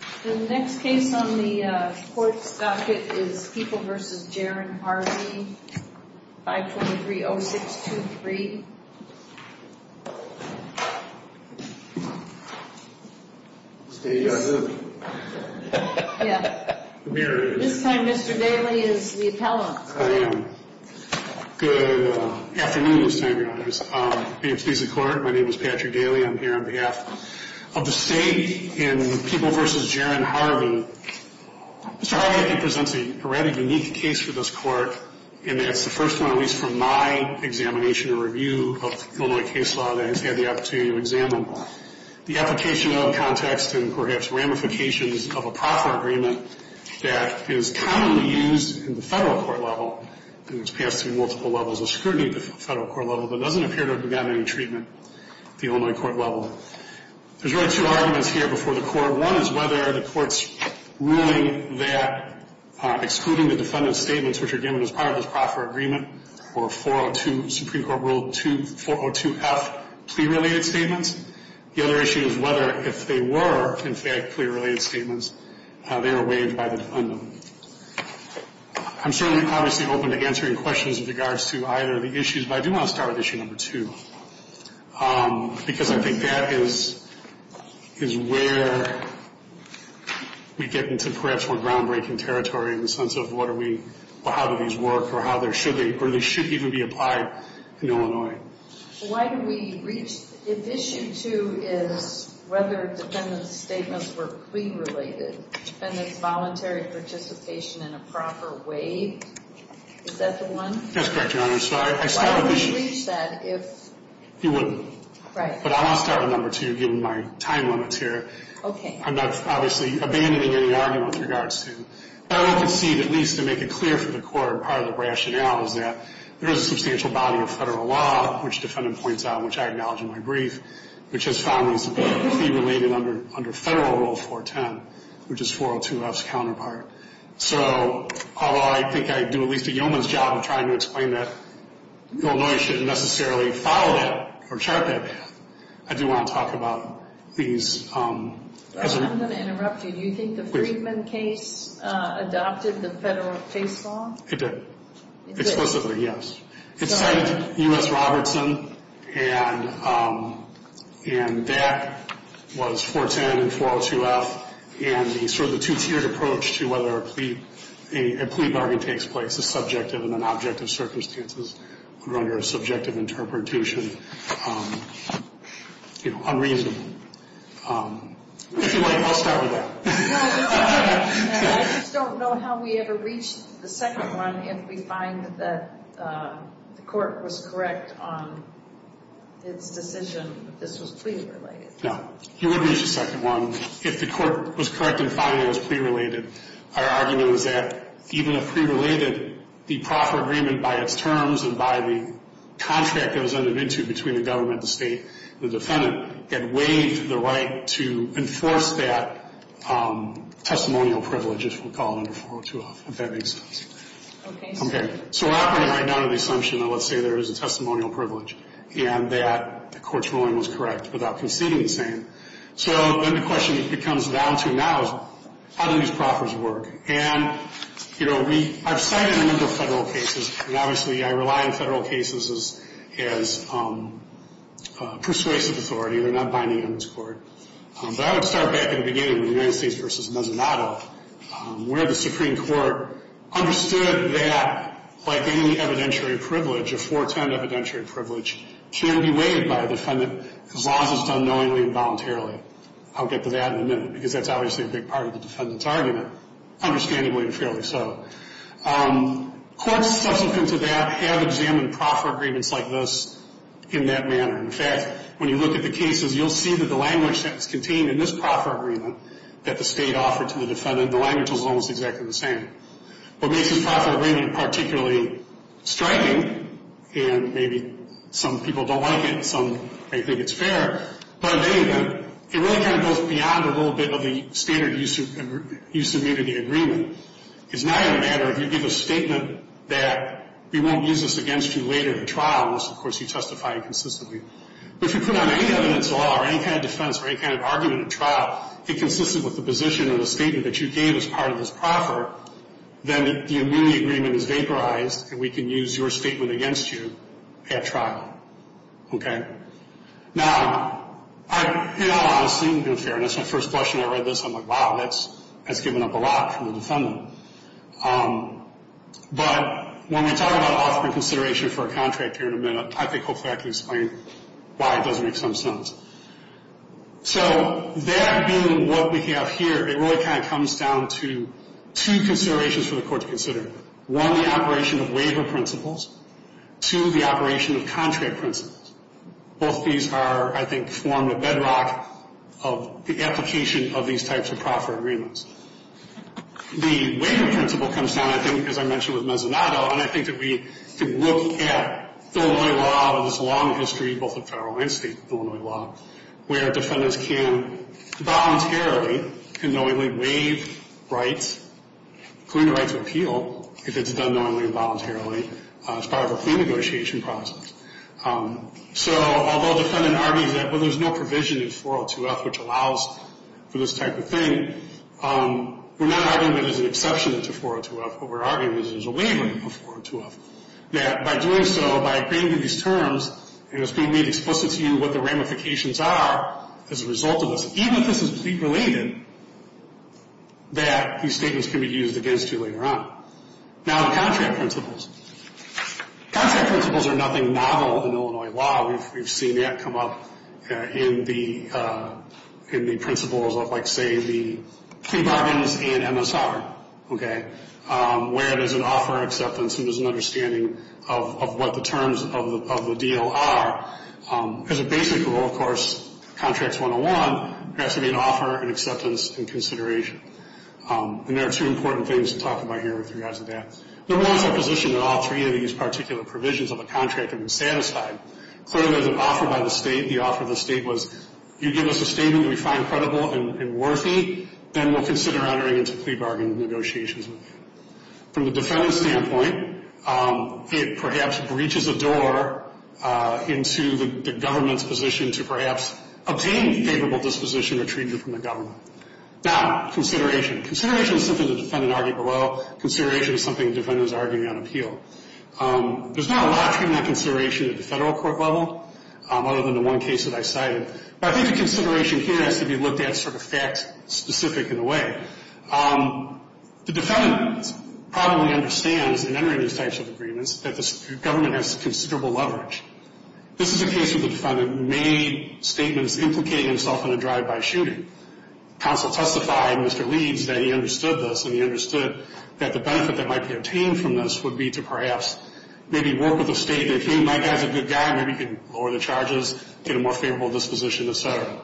5.30623 This time Mr. Daley is the appellant. I am. Good afternoon this time, Your Honors. Being pleased to court, my name is Patrick Daley. I'm here on behalf of the state in People v. Jaron Harvey. Mr. Harvey, I think, presents a rather unique case for this court. And that's the first one at least from my examination or review of Illinois case law that I've had the opportunity to examine. The application of, context, and perhaps ramifications of a proffer agreement that is commonly used in the federal court level and it's passed through multiple levels of scrutiny at the federal court level but doesn't appear to have gotten any treatment at the Illinois court level. There's really two arguments here before the court. One is whether the court's ruling that excluding the defendant's statements which are given as part of this proffer agreement or 402, Supreme Court Rule 402F, plea-related statements. The other issue is whether if they were, in fact, plea-related statements, they were waived by the defendant. I'm certainly obviously open to answering questions in regards to either of the issues, but I do want to start with issue number two. Because I think that is where we get into perhaps more groundbreaking territory in the sense of what are we, how do these work or how they're, should they, or they should even be applied in Illinois. Why do we reach, if issue two is whether defendant's statements were plea-related, defendant's voluntary participation in a proffer waived, is that the one? That's correct, Your Honor. Why would we reach that if? You wouldn't. Right. But I want to start with number two given my time limits here. Okay. I'm not obviously abandoning any argument with regards to. I would concede at least to make it clear for the court part of the rationale is that there is a substantial body of federal law, which defendant points out, which I acknowledge in my brief, which has found these to be plea-related under Federal Rule 410, which is 402F's counterpart. So although I think I do at least a yeoman's job of trying to explain that, although I shouldn't necessarily follow that or chart that path, I do want to talk about these. I'm going to interrupt you. Do you think the Friedman case adopted the federal case law? It did. It did? Explicitly, yes. It cited U.S. Robertson, and that was 410 and 402F, and sort of the two-tiered approach to whether a plea bargain takes place is subjective and an object of circumstances under a subjective interpretation, unreasonable. I'll start with that. I just don't know how we ever reached the second one, if we find that the court was correct on its decision that this was plea-related. No. You would reach the second one if the court was correct in finding it was plea-related. Our argument was that even if plea-related, the proffer agreement by its terms and by the contract it was entered into between the government, the state, and the defendant, it waived the right to enforce that testimonial privilege, as we'll call it, under 402F, if that makes sense. Okay. Okay. So we're operating right now under the assumption that let's say there is a testimonial privilege and that the court's ruling was correct without conceding the same. So then the question becomes down to now is how do these proffers work? And, you know, we – I've cited a number of Federal cases, and obviously I rely on Federal cases as persuasive authority. They're not binding on this Court. But I would start back at the beginning with the United States v. Mezzanotto, where the Supreme Court understood that, like any evidentiary privilege, a 410 evidentiary privilege can be waived by a defendant as long as it's done knowingly and voluntarily. I'll get to that in a minute because that's obviously a big part of the defendant's argument, understandably and fairly so. Courts subsequent to that have examined proffer agreements like this in that manner. In fact, when you look at the cases, you'll see that the language that's contained in this proffer agreement that the state offered to the defendant, the language was almost exactly the same. What makes this proffer agreement particularly striking, and maybe some people don't like it and some may think it's fair, but in any event, it really kind of goes beyond a little bit of the standard use of immunity agreement. It's not a matter of you give a statement that we won't use this against you later in trial, unless, of course, you testify inconsistently. But if you put on any evidence at all or any kind of defense or any kind of argument at trial that consisted with the position or the statement that you gave as part of this proffer, then the immunity agreement is vaporized and we can use your statement against you at trial. Okay? Now, in all honesty, in fairness, my first question when I read this, I'm like, wow, that's giving up a lot from the defendant. But when we talk about offering consideration for a contract here in a minute, I think hopefully I can explain why it does make some sense. So that being what we have here, it really kind of comes down to two considerations for the court to consider. One, the operation of waiver principles. Two, the operation of contract principles. Both these are, I think, form the bedrock of the application of these types of proffer agreements. The waiver principle comes down, I think, as I mentioned with Mezzanotto, and I think that we can look at Illinois law and its long history, both in federal and state Illinois law, where defendants can voluntarily and knowingly waive rights, including the right to appeal if it's done knowingly and voluntarily as part of a clean negotiation process. So although a defendant argues that, well, there's no provision in 402F which allows for this type of thing, we're not arguing that there's an exception to 402F. What we're arguing is there's a waiver of 402F. That by doing so, by agreeing to these terms, and it's being made explicit to you what the ramifications are as a result of this, even if this is plea-related, that these statements can be used against you later on. Now the contract principles. Contract principles are nothing novel in Illinois law. We've seen that come up in the principles of, like, say, the plea bargains and MSR, okay, where there's an offer, acceptance, and there's an understanding of what the terms of the deal are. As a basic rule, of course, Contracts 101 has to be an offer, an acceptance, and consideration. And there are two important things to talk about here with regards to that. There was a position that all three of these particular provisions of the contract had been satisfied. Clearly, there's an offer by the State. The offer of the State was, you give us a statement that we find credible and worthy, then we'll consider entering into plea bargain negotiations with you. From the defendant's standpoint, it perhaps breaches a door into the government's position to perhaps obtain favorable disposition or treat you from the government. Now, consideration. Consideration is something the defendant argued below. Consideration is something the defendant is arguing on appeal. There's not a lot to that consideration at the federal court level, other than the one case that I cited. But I think the consideration here has to be looked at sort of fact-specific in a way. The defendant probably understands, in entering these types of agreements, that the government has considerable leverage. This is a case where the defendant made statements implicating himself in a drive-by shooting. Counsel testified, Mr. Leeds, that he understood this, and he understood that the benefit that might be obtained from this would be to perhaps maybe work with the State that he might have as a good guy. Maybe he could lower the charges, get a more favorable disposition, et cetera.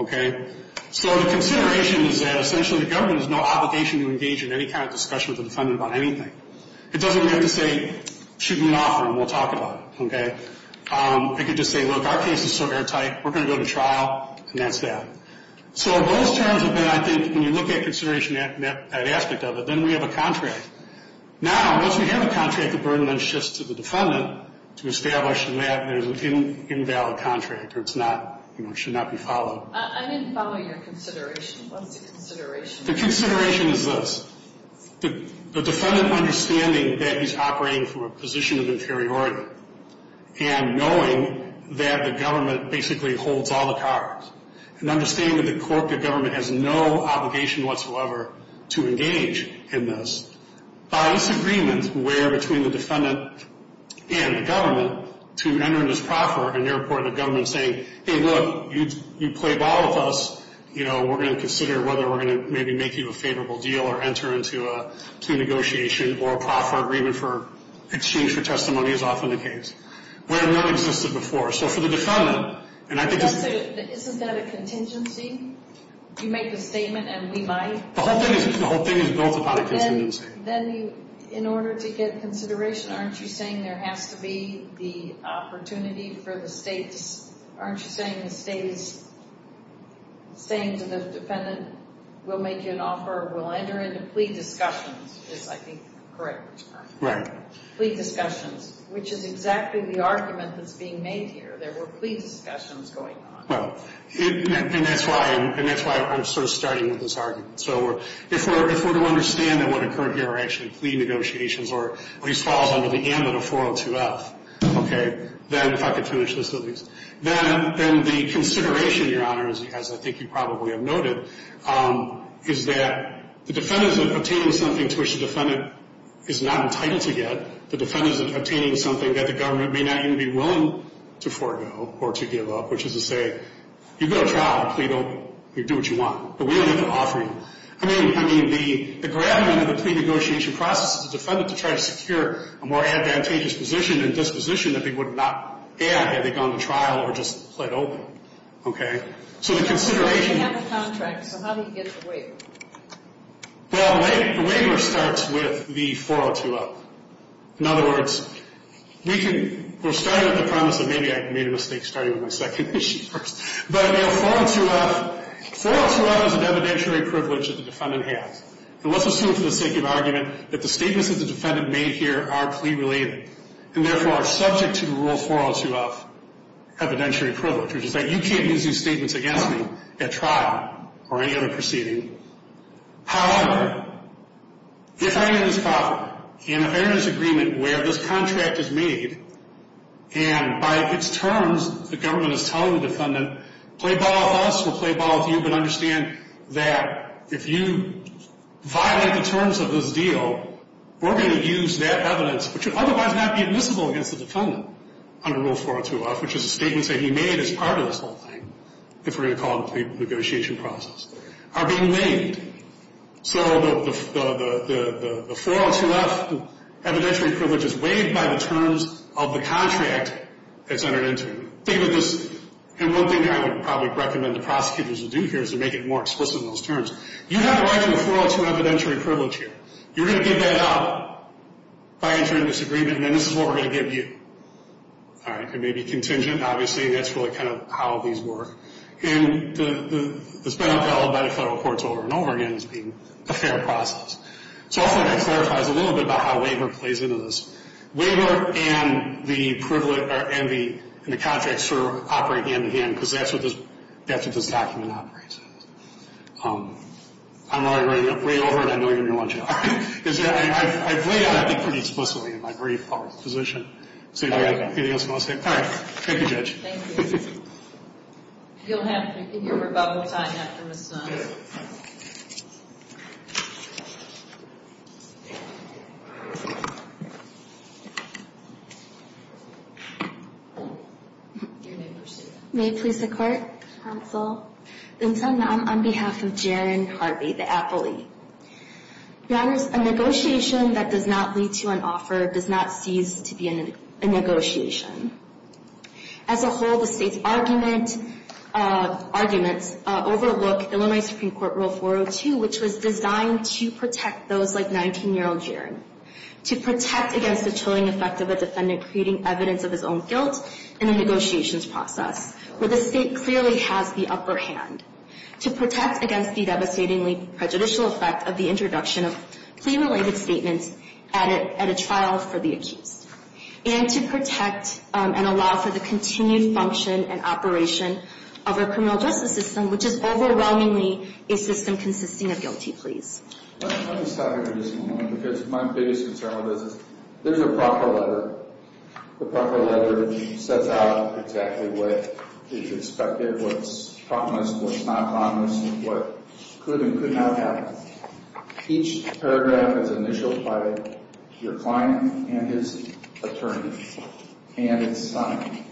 Okay? So the consideration is that essentially the government has no obligation to engage in any kind of discussion with the defendant about anything. It doesn't mean to say, shoot me an offer and we'll talk about it. Okay? It could just say, look, our case is so airtight, we're going to go to trial, and that's that. So those terms have been, I think, when you look at consideration, that aspect of it, then we have a contract. Now, once we have a contract, the burden then shifts to the defendant to establish that there's an invalid contract or it's not, you know, it should not be followed. I didn't follow your consideration. What is the consideration? The consideration is this. The defendant understanding that he's operating from a position of inferiority and knowing that the government basically holds all the cards and understanding that the corporate government has no obligation whatsoever to engage in this, by this agreement where between the defendant and the government to enter into this proffer and therefore the government saying, hey, look, you played ball with us, you know, we're going to consider whether we're going to maybe make you a favorable deal or enter into a plea negotiation or a proffer agreement for exchange for testimony, as often the case, where none existed before. So for the defendant, and I think it's... Isn't that a contingency? You make a statement and we buy it? The whole thing is built upon a contingency. Then in order to get consideration, aren't you saying there has to be the opportunity for the states? Aren't you saying the state is saying to the defendant, we'll make you an offer, we'll enter into plea discussions, is I think the correct term. Right. Plea discussions, which is exactly the argument that's being made here. There were plea discussions going on. Well, and that's why I'm sort of starting with this argument. So if we're to understand that what occurred here are actually plea negotiations or at least falls under the ambit of 402F, okay, then, if I could finish this at least, then the consideration, Your Honor, as I think you probably have noted, is that the defendant is obtaining something to which the defendant is not entitled to get. The defendant is obtaining something that the government may not even be willing to forego or to give up, which is to say, you've got a job. Please do what you want, but we don't have to offer you. I mean, the gravity of the plea negotiation process is the defendant to try to secure a more advantageous position and disposition that they would not add had they gone to trial or just pled open. Okay? So the consideration. You have the contract, so how do you get the waiver? Well, the waiver starts with the 402F. In other words, we're starting with the promise that maybe I made a mistake starting with my second issue first. But, you know, 402F, 402F is an evidentiary privilege that the defendant has. And let's assume for the sake of argument that the statements that the defendant made here are plea related and therefore are subject to the rule 402F, evidentiary privilege, which is that you can't use these statements against me at trial or any other proceeding. However, if I am in this agreement where this contract is made and by its terms the government is telling the defendant, play ball with us, we'll play ball with you, but understand that if you violate the terms of this deal, we're going to use that evidence, which would otherwise not be admissible against the defendant under rule 402F, which is a statement that he made as part of this whole thing, if we're going to call it a plea negotiation process, are being made. So the 402F evidentiary privilege is waived by the terms of the contract it's entered into. Think of this, and one thing I would probably recommend the prosecutors would do here is to make it more explicit in those terms. You have a right to a 402 evidentiary privilege here. You're going to get that out by entering this agreement, and then this is what we're going to give you. All right, it may be contingent, obviously, and that's really kind of how these work. And it's been upheld by the federal courts over and over again as being a fair process. So hopefully that clarifies a little bit about how waiver plays into this. Waiver and the contract sort of operate hand-in-hand because that's what this document operates as. I'm already way over, and I know you're going to want to jump in. I've laid out that pretty explicitly in my brief public position. So do you have anything else you want to say? All right. Thank you, Judge. You'll have your rebuttal time after Ms. Snow. May it please the Court, counsel. I'm on behalf of Jaron Harvey, the appellee. Your Honors, a negotiation that does not lead to an offer does not cease to be a negotiation. As a whole, the State's arguments overlook Illinois Supreme Court Rule 402, which was designed to protect those like 19-year-old Jaron, to protect against the chilling effect of a defendant creating evidence of his own guilt in a negotiations process, where the State clearly has the upper hand, to protect against the devastatingly prejudicial effect of the introduction of plea-related statements at a trial for the accused, and to protect and allow for the continued function and operation of our criminal justice system, which is overwhelmingly a system consisting of guilty pleas. Let me stop you for just a moment because my biggest concern with this is there's a proper letter. The proper letter sets out exactly what is expected, what's promised, what's not promised, what could and could not happen. Each paragraph is initialed by your client and his attorney and it's signed.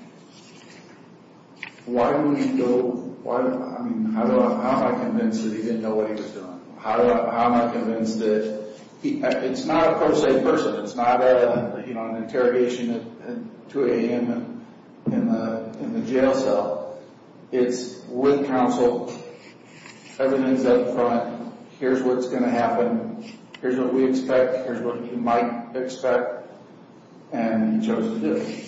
Why do we go, I mean, how am I convinced that he didn't know what he was doing? How am I convinced that he, it's not a per se person, it's not an interrogation at 2 a.m. in the jail cell. It's with counsel, evidence up front, here's what's going to happen, here's what we expect, here's what he might expect, and he chose to do it.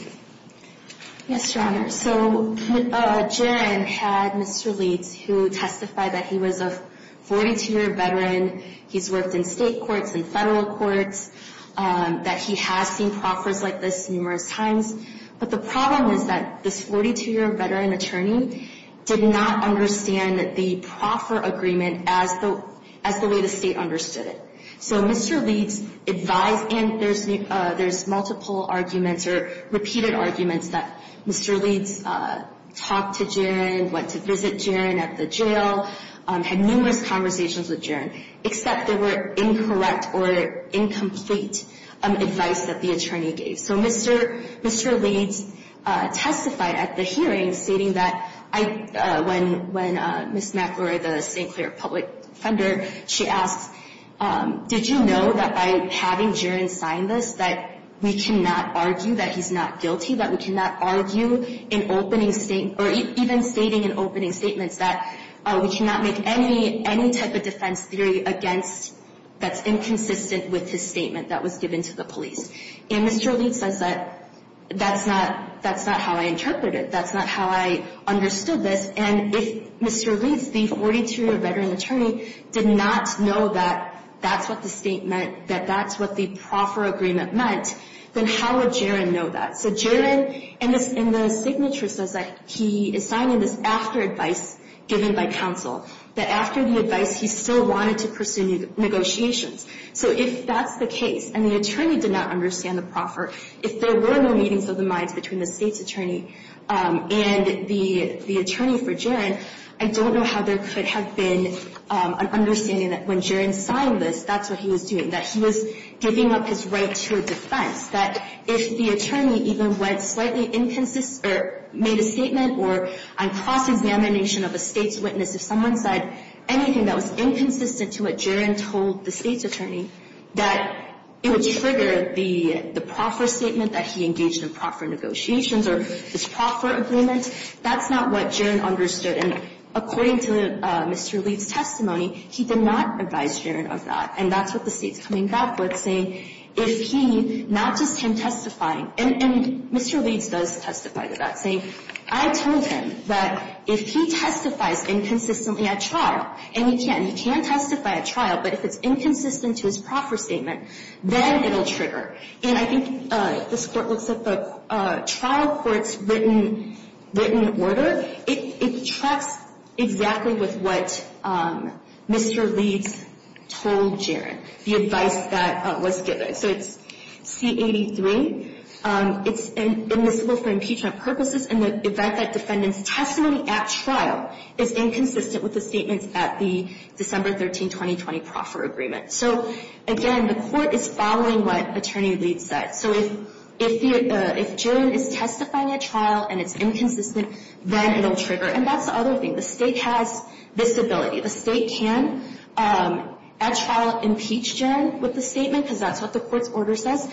Yes, Your Honor. So, Jaron had Mr. Leeds, who testified that he was a 42-year veteran, he's worked in state courts and federal courts, that he has seen proffers like this numerous times. But the problem is that this 42-year veteran attorney did not understand the proffer agreement as the way the state understood it. So Mr. Leeds advised, and there's multiple arguments or repeated arguments that Mr. Leeds talked to Jaron, went to visit Jaron at the jail, had numerous conversations with Jaron, except they were incorrect or incomplete advice that the attorney gave. So Mr. Leeds testified at the hearing, stating that when Ms. McElroy, the St. Clair public defender, she asked, did you know that by having Jaron sign this, that we cannot argue that he's not guilty, that we cannot argue in opening statements, or even stating in opening statements that we cannot make any type of defense theory against, that's inconsistent with his statement that was given to the police. And Mr. Leeds says that that's not how I interpreted it. That's not how I understood this. And if Mr. Leeds, the 42-year veteran attorney, did not know that that's what the state meant, that that's what the proffer agreement meant, then how would Jaron know that? So Jaron in the signature says that he is signing this after advice given by counsel, that after the advice he still wanted to pursue negotiations. So if that's the case, and the attorney did not understand the proffer, if there were no meetings of the minds between the state's attorney and the attorney for Jaron, I don't know how there could have been an understanding that when Jaron signed this, that's what he was doing, that he was giving up his right to a defense, that if the attorney even went slightly inconsistent or made a statement or on cross-examination of a state's witness, if someone said anything that was inconsistent to what Jaron told the state's attorney, that it would trigger the proffer statement that he engaged in proffer negotiations or his proffer agreement. That's not what Jaron understood. And according to Mr. Leeds' testimony, he did not advise Jaron of that. And that's what the state's coming back with, saying if he, not just him testifying, and Mr. Leeds does testify to that, saying I told him that if he testifies inconsistently at trial, and he can, he can testify at trial, but if it's inconsistent to his proffer statement, then it will trigger. And I think this Court looks at the trial court's written order. It tracks exactly with what Mr. Leeds told Jaron, the advice that was given. So it's C83. It's admissible for impeachment purposes in the event that defendant's testimony at trial is inconsistent with the statements at the December 13, 2020, proffer agreement. So, again, the Court is following what Attorney Leeds said. So if Jaron is testifying at trial and it's inconsistent, then it will trigger. And that's the other thing. The state has this ability. The state can at trial impeach Jaron with the statement because that's what the court's order says.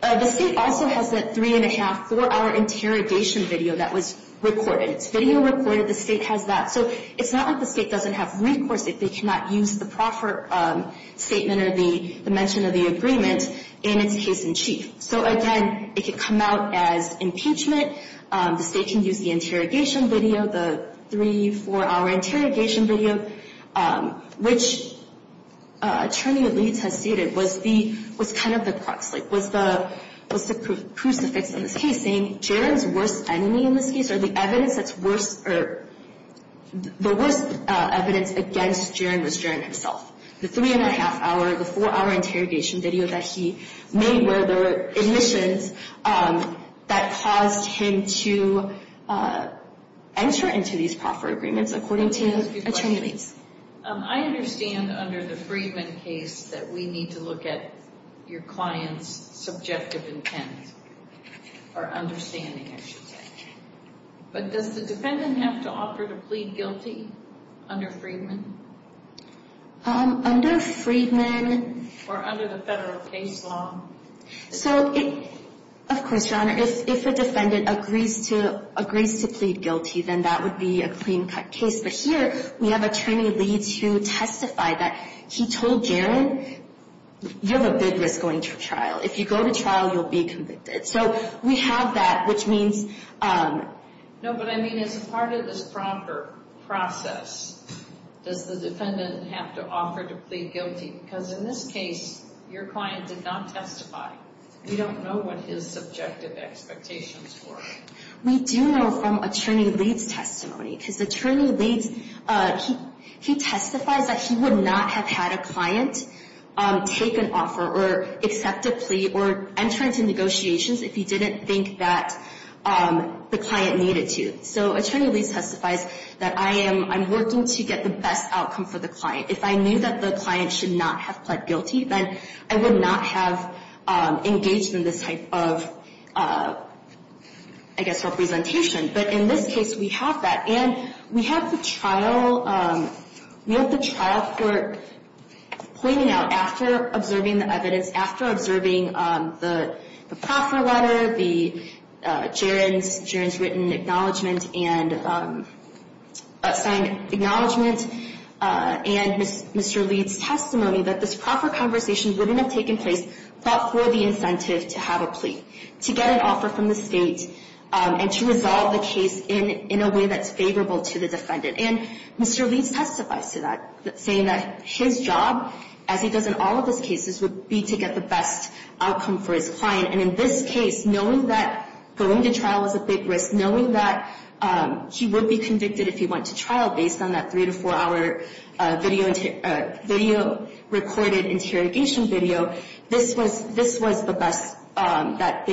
The state also has a three-and-a-half, four-hour interrogation video that was recorded. It's video recorded. The state has that. So it's not like the state doesn't have recourse if they cannot use the proffer statement or the mention of the agreement in its case in chief. So, again, it could come out as impeachment. The state can use the interrogation video, the three-, four-hour interrogation video, which Attorney Leeds has stated was kind of the crux, like was the crucifix in this case, saying Jaron's worst enemy in this case or the worst evidence against Jaron was Jaron himself. The three-and-a-half hour, the four-hour interrogation video that he made were the admissions that caused him to enter into these proffer agreements, according to Attorney Leeds. I understand under the Freedman case that we need to look at your client's subjective intent or understanding, I should say. But does the defendant have to offer to plead guilty under Freedman? Under Freedman. Or under the federal case law. So, of course, Your Honor, if a defendant agrees to plead guilty, then that would be a clean-cut case. But here we have Attorney Leeds who testified that he told Jaron, you have a big risk going to trial. If you go to trial, you'll be convicted. So we have that, which means... But, I mean, as part of this proffer process, does the defendant have to offer to plead guilty? Because in this case, your client did not testify. We don't know what his subjective expectations were. We do know from Attorney Leeds' testimony, because Attorney Leeds, he testifies that he would not have had a client take an offer or accept a plea or enter into negotiations if he didn't think that the client needed to. So Attorney Leeds testifies that I am working to get the best outcome for the client. If I knew that the client should not have pled guilty, then I would not have engaged in this type of, I guess, representation. But in this case, we have that, and we have the trial court pointing out after observing the evidence, after observing the proffer letter, Jaron's written acknowledgment and signed acknowledgment, and Mr. Leeds' testimony that this proffer conversation wouldn't have taken place but for the incentive to have a plea, to get an offer from the state, and to resolve the case in a way that's favorable to the defendant. And Mr. Leeds testifies to that, saying that his job, as he does in all of his cases, would be to get the best outcome for his client. And in this case, knowing that going to trial is a big risk, knowing that he would be convicted if he went to trial based on that three- to four-hour video recorded interrogation video, this was the best that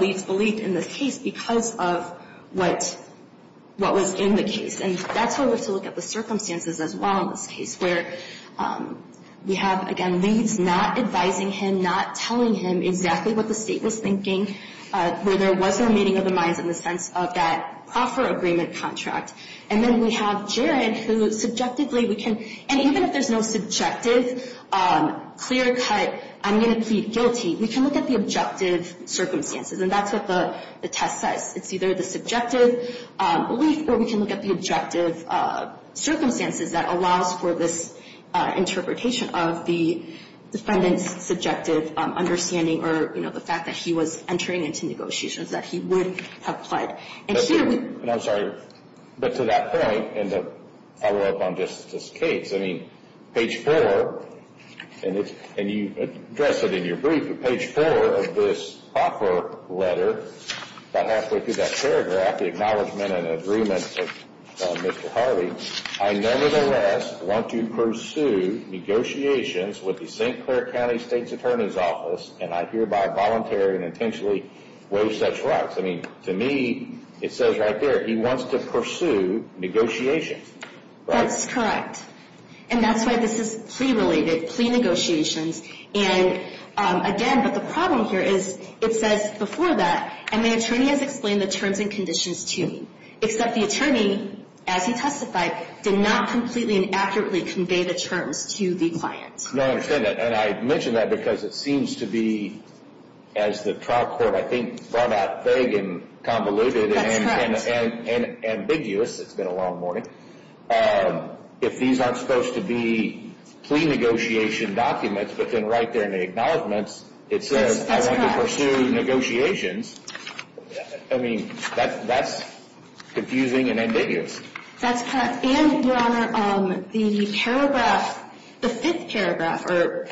Leeds believed in this case because of what was in the case. And that's why we have to look at the circumstances as well in this case, where we have, again, Leeds not advising him, not telling him exactly what the state was thinking, where there was no meeting of the minds in the sense of that proffer agreement contract. And then we have Jared, who subjectively we can – and even if there's no subjective, clear-cut, I'm going to plead guilty, we can look at the objective circumstances. And that's what the test says. It's either the subjective belief or we can look at the objective circumstances that allows for this interpretation of the defendant's subjective understanding or, you know, the fact that he was entering into negotiations that he would have pled. And I'm sorry, but to that point, and to follow up on Justice Cates, I mean, page four, and you address it in your brief, but page four of this offer letter, about halfway through that paragraph, the acknowledgement and agreement of Mr. Harvey, I nevertheless want to pursue negotiations with the St. Clair County State's Attorney's Office, and I hereby voluntarily and intentionally waive such rights. I mean, to me, it says right there he wants to pursue negotiations. That's correct. And that's why this is plea-related, plea negotiations. And again, but the problem here is it says before that, and the attorney has explained the terms and conditions to me, except the attorney, as he testified, did not completely and accurately convey the terms to the client. No, I understand that. And I mention that because it seems to be, as the trial court, I think, brought out vague and convoluted and ambiguous. It's been a long morning. If these aren't supposed to be plea negotiation documents, but then right there in the acknowledgements, it says I want to pursue negotiations. I mean, that's confusing and ambiguous. That's correct. And, Your Honor, the paragraph, the fifth paragraph, or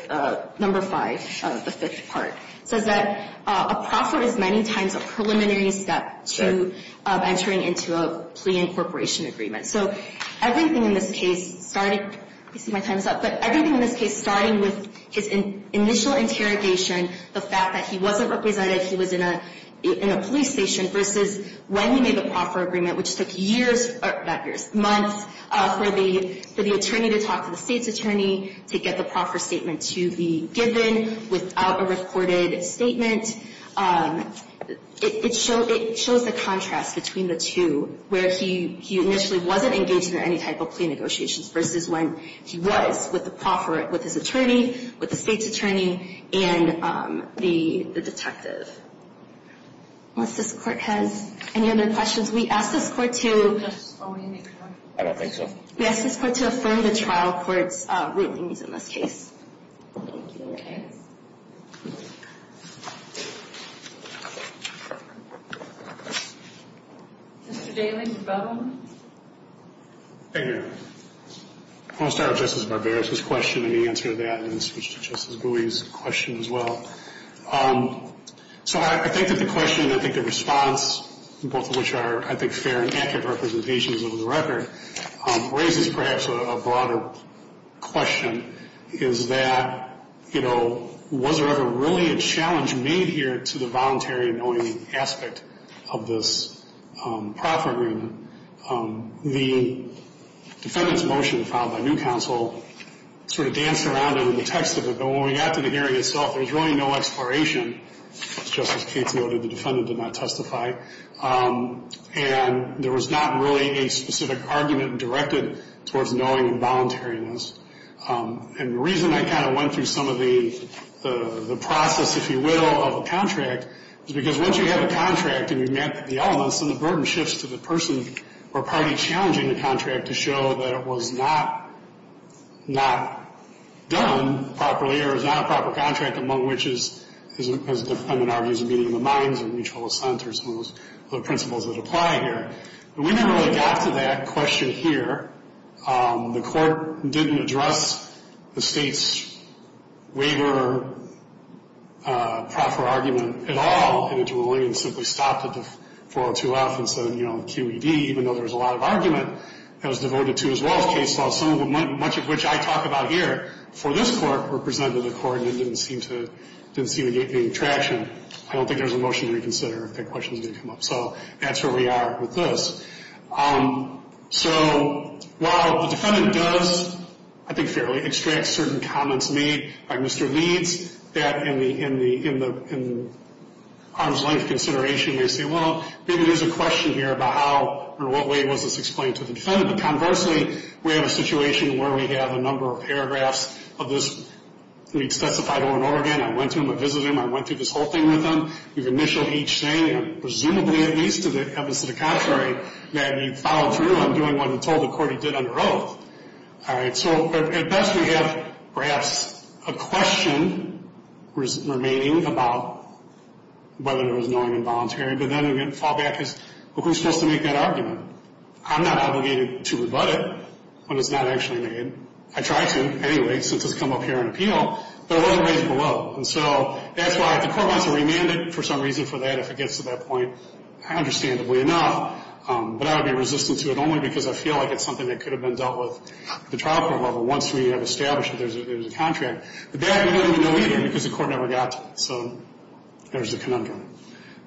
number five, the fifth part, says that a proffer is many times a preliminary step to entering into a plea incorporation agreement. So everything in this case started, let me see my time's up, but everything in this case starting with his initial interrogation, the fact that he wasn't represented, he was in a police station, versus when he made the proffer agreement, which took years, not years, months, for the attorney to talk to the state's attorney to get the proffer statement to be given without a reported statement. It shows the contrast between the two, where he initially wasn't engaged in any type of plea negotiations, versus when he was with the proffer, with his attorney, with the state's attorney, and the detective. Unless this court has any other questions. We ask this court to affirm the trial court's rulings in this case. Mr. Daly, do you have one? Thank you. I want to start with Justice Barbera's question and the answer to that, and then switch to Justice Bowie's question as well. So I think that the question, I think the response, both of which are, I think, fair and accurate representations of the record, raises perhaps a broader question, is that, you know, was there ever really a challenge made here to the voluntary anointing aspect of this proffer agreement? The defendant's motion filed by new counsel sort of danced around it in the text of it, but when we got to the hearing itself, there was really no exploration. As Justice Cates noted, the defendant did not testify. And there was not really a specific argument directed towards knowing the voluntariness. And the reason I kind of went through some of the process, if you will, of the contract, is because once you have a contract and you've met the elements, then the burden shifts to the person or party challenging the contract to show that it was not done properly or is not a proper contract, among which is, as the defendant argues, a meeting of the minds and mutual assent or some of those principles that apply here. But we never really got to that question here. The court didn't address the state's waiver proffer argument at all in its ruling and simply stopped at the 402F and said, you know, QED, even though there was a lot of argument, that was devoted to as well as case law. Some of them, much of which I talk about here for this court, were presented to the court and didn't seem to get any traction. I don't think there's a motion to reconsider if that question is going to come up. So that's where we are with this. So while the defendant does, I think, fairly extract certain comments made by Mr. Leeds, that in the arm's-length consideration, they say, well, maybe there's a question here about how or what way was this explained to the defendant. But conversely, we have a situation where we have a number of paragraphs of this. We've specified Owen Oregon. I went to him. I visited him. I went through this whole thing with him. We've initialed each saying, presumably at least to the contrary, that he followed through on doing what he told the court he did under oath. All right. So at best we have perhaps a question remaining about whether there was knowing involuntary. But then we fall back as, well, who's supposed to make that argument? I'm not obligated to rebut it when it's not actually made. I try to anyway since it's come up here on appeal. But it wasn't raised below. And so that's why if the court wants to remand it for some reason for that, if it gets to that point, understandably enough. But I would be resistant to it only because I feel like it's something that could have been dealt with at the trial court level once we have established that there's a contract. The bad thing is we don't even know either because the court never got to it. So there's the conundrum.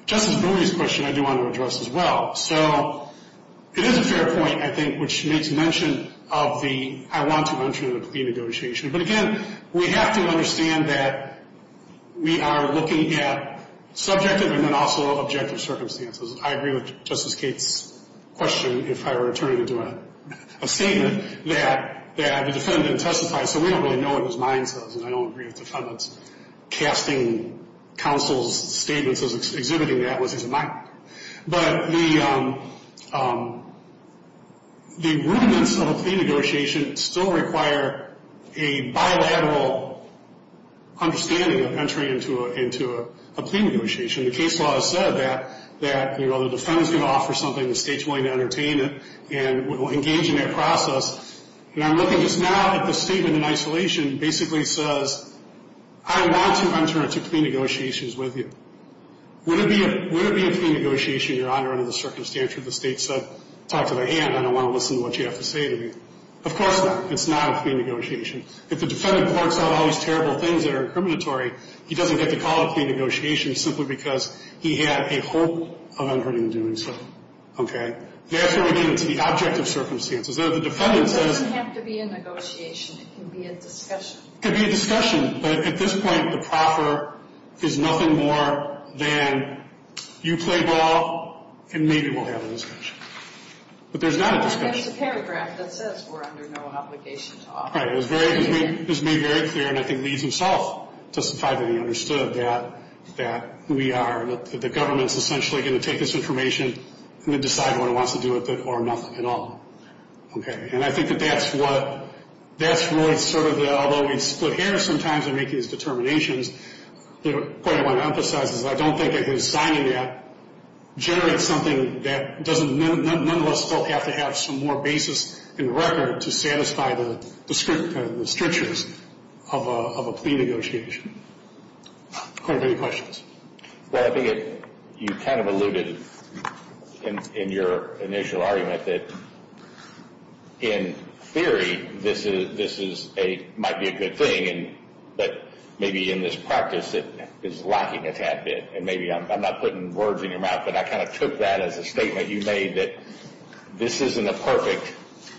Justice Bowie's question I do want to address as well. So it is a fair point, I think, which makes mention of the I want to mention of the plea negotiation. But, again, we have to understand that we are looking at subjective and then also objective circumstances. I agree with Justice Gates' question if I were to turn it into a statement that the defendant testified. So we don't really know what his mind says. And I don't agree with the defendant's casting counsel's statements as exhibiting that was his mind. But the rudiments of a plea negotiation still require a bilateral understanding of entering into a plea negotiation. The case law has said that the defendant's going to offer something, the state's willing to entertain it, and will engage in that process. And I'm looking just now at the statement in isolation basically says, I want to enter into plea negotiations with you. Would it be a plea negotiation, Your Honor, under the circumstances where the state said, talk to my aunt, I don't want to listen to what you have to say to me? Of course not. It's not a plea negotiation. If the defendant works out all these terrible things that are incriminatory, he doesn't get to call it a plea negotiation simply because he had a hope of entering into doing so. Okay? Therefore, we get into the objective circumstances. The defendant says… It doesn't have to be a negotiation. It can be a discussion. It can be a discussion. But at this point, the proffer is nothing more than you play ball and maybe we'll have a discussion. But there's not a discussion. And it's a paragraph that says we're under no obligation to offer a plea. Right. It was made very clear, and I think Lee himself testified that he understood that we are, that the government's essentially going to take this information and then decide what it wants to do with it or nothing at all. Okay. And I think that that's what, that's really sort of the, although we split hairs sometimes and make these determinations, the point I want to emphasize is I don't think that his signing that generates something that doesn't, none of us will have to have some more basis in record to satisfy the strictures of a plea negotiation. Clarence, any questions? Well, I think you kind of alluded in your initial argument that, in theory, this might be a good thing, but maybe in this practice it is lacking a tad bit. And maybe I'm not putting words in your mouth, but I kind of took that as a statement you made that this isn't a perfect.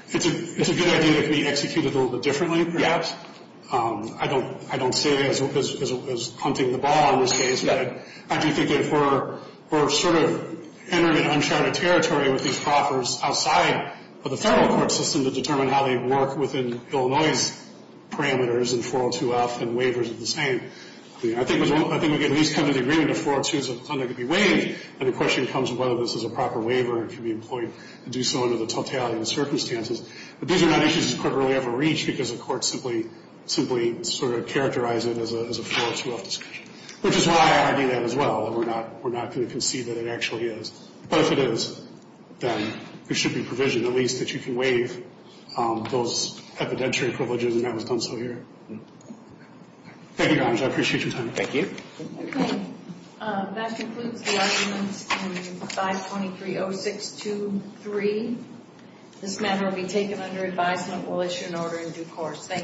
It's a good idea to be executed a little bit differently perhaps. I don't see it as hunting the ball in this case. I do think that we're sort of entering uncharted territory with these proffers outside of the federal court system to determine how they work within Illinois's parameters and 402F and waivers are the same. I think we can at least come to the agreement that 402 is something that can be waived, and the question comes whether this is a proper waiver and can be employed to do so under the totality of the circumstances. But these are not issues this Court will ever reach because the Court simply sort of characterized it as a 402F discussion, which is why I do that as well, that we're not going to concede that it actually is. But if it is, then there should be provision at least that you can waive those evidentiary privileges, and that was done so here. Thank you, Your Honor. I appreciate your time. Thank you. Okay. That concludes the arguments in 523-0623. This matter will be taken under advisement. We'll issue an order in due course. Thank you.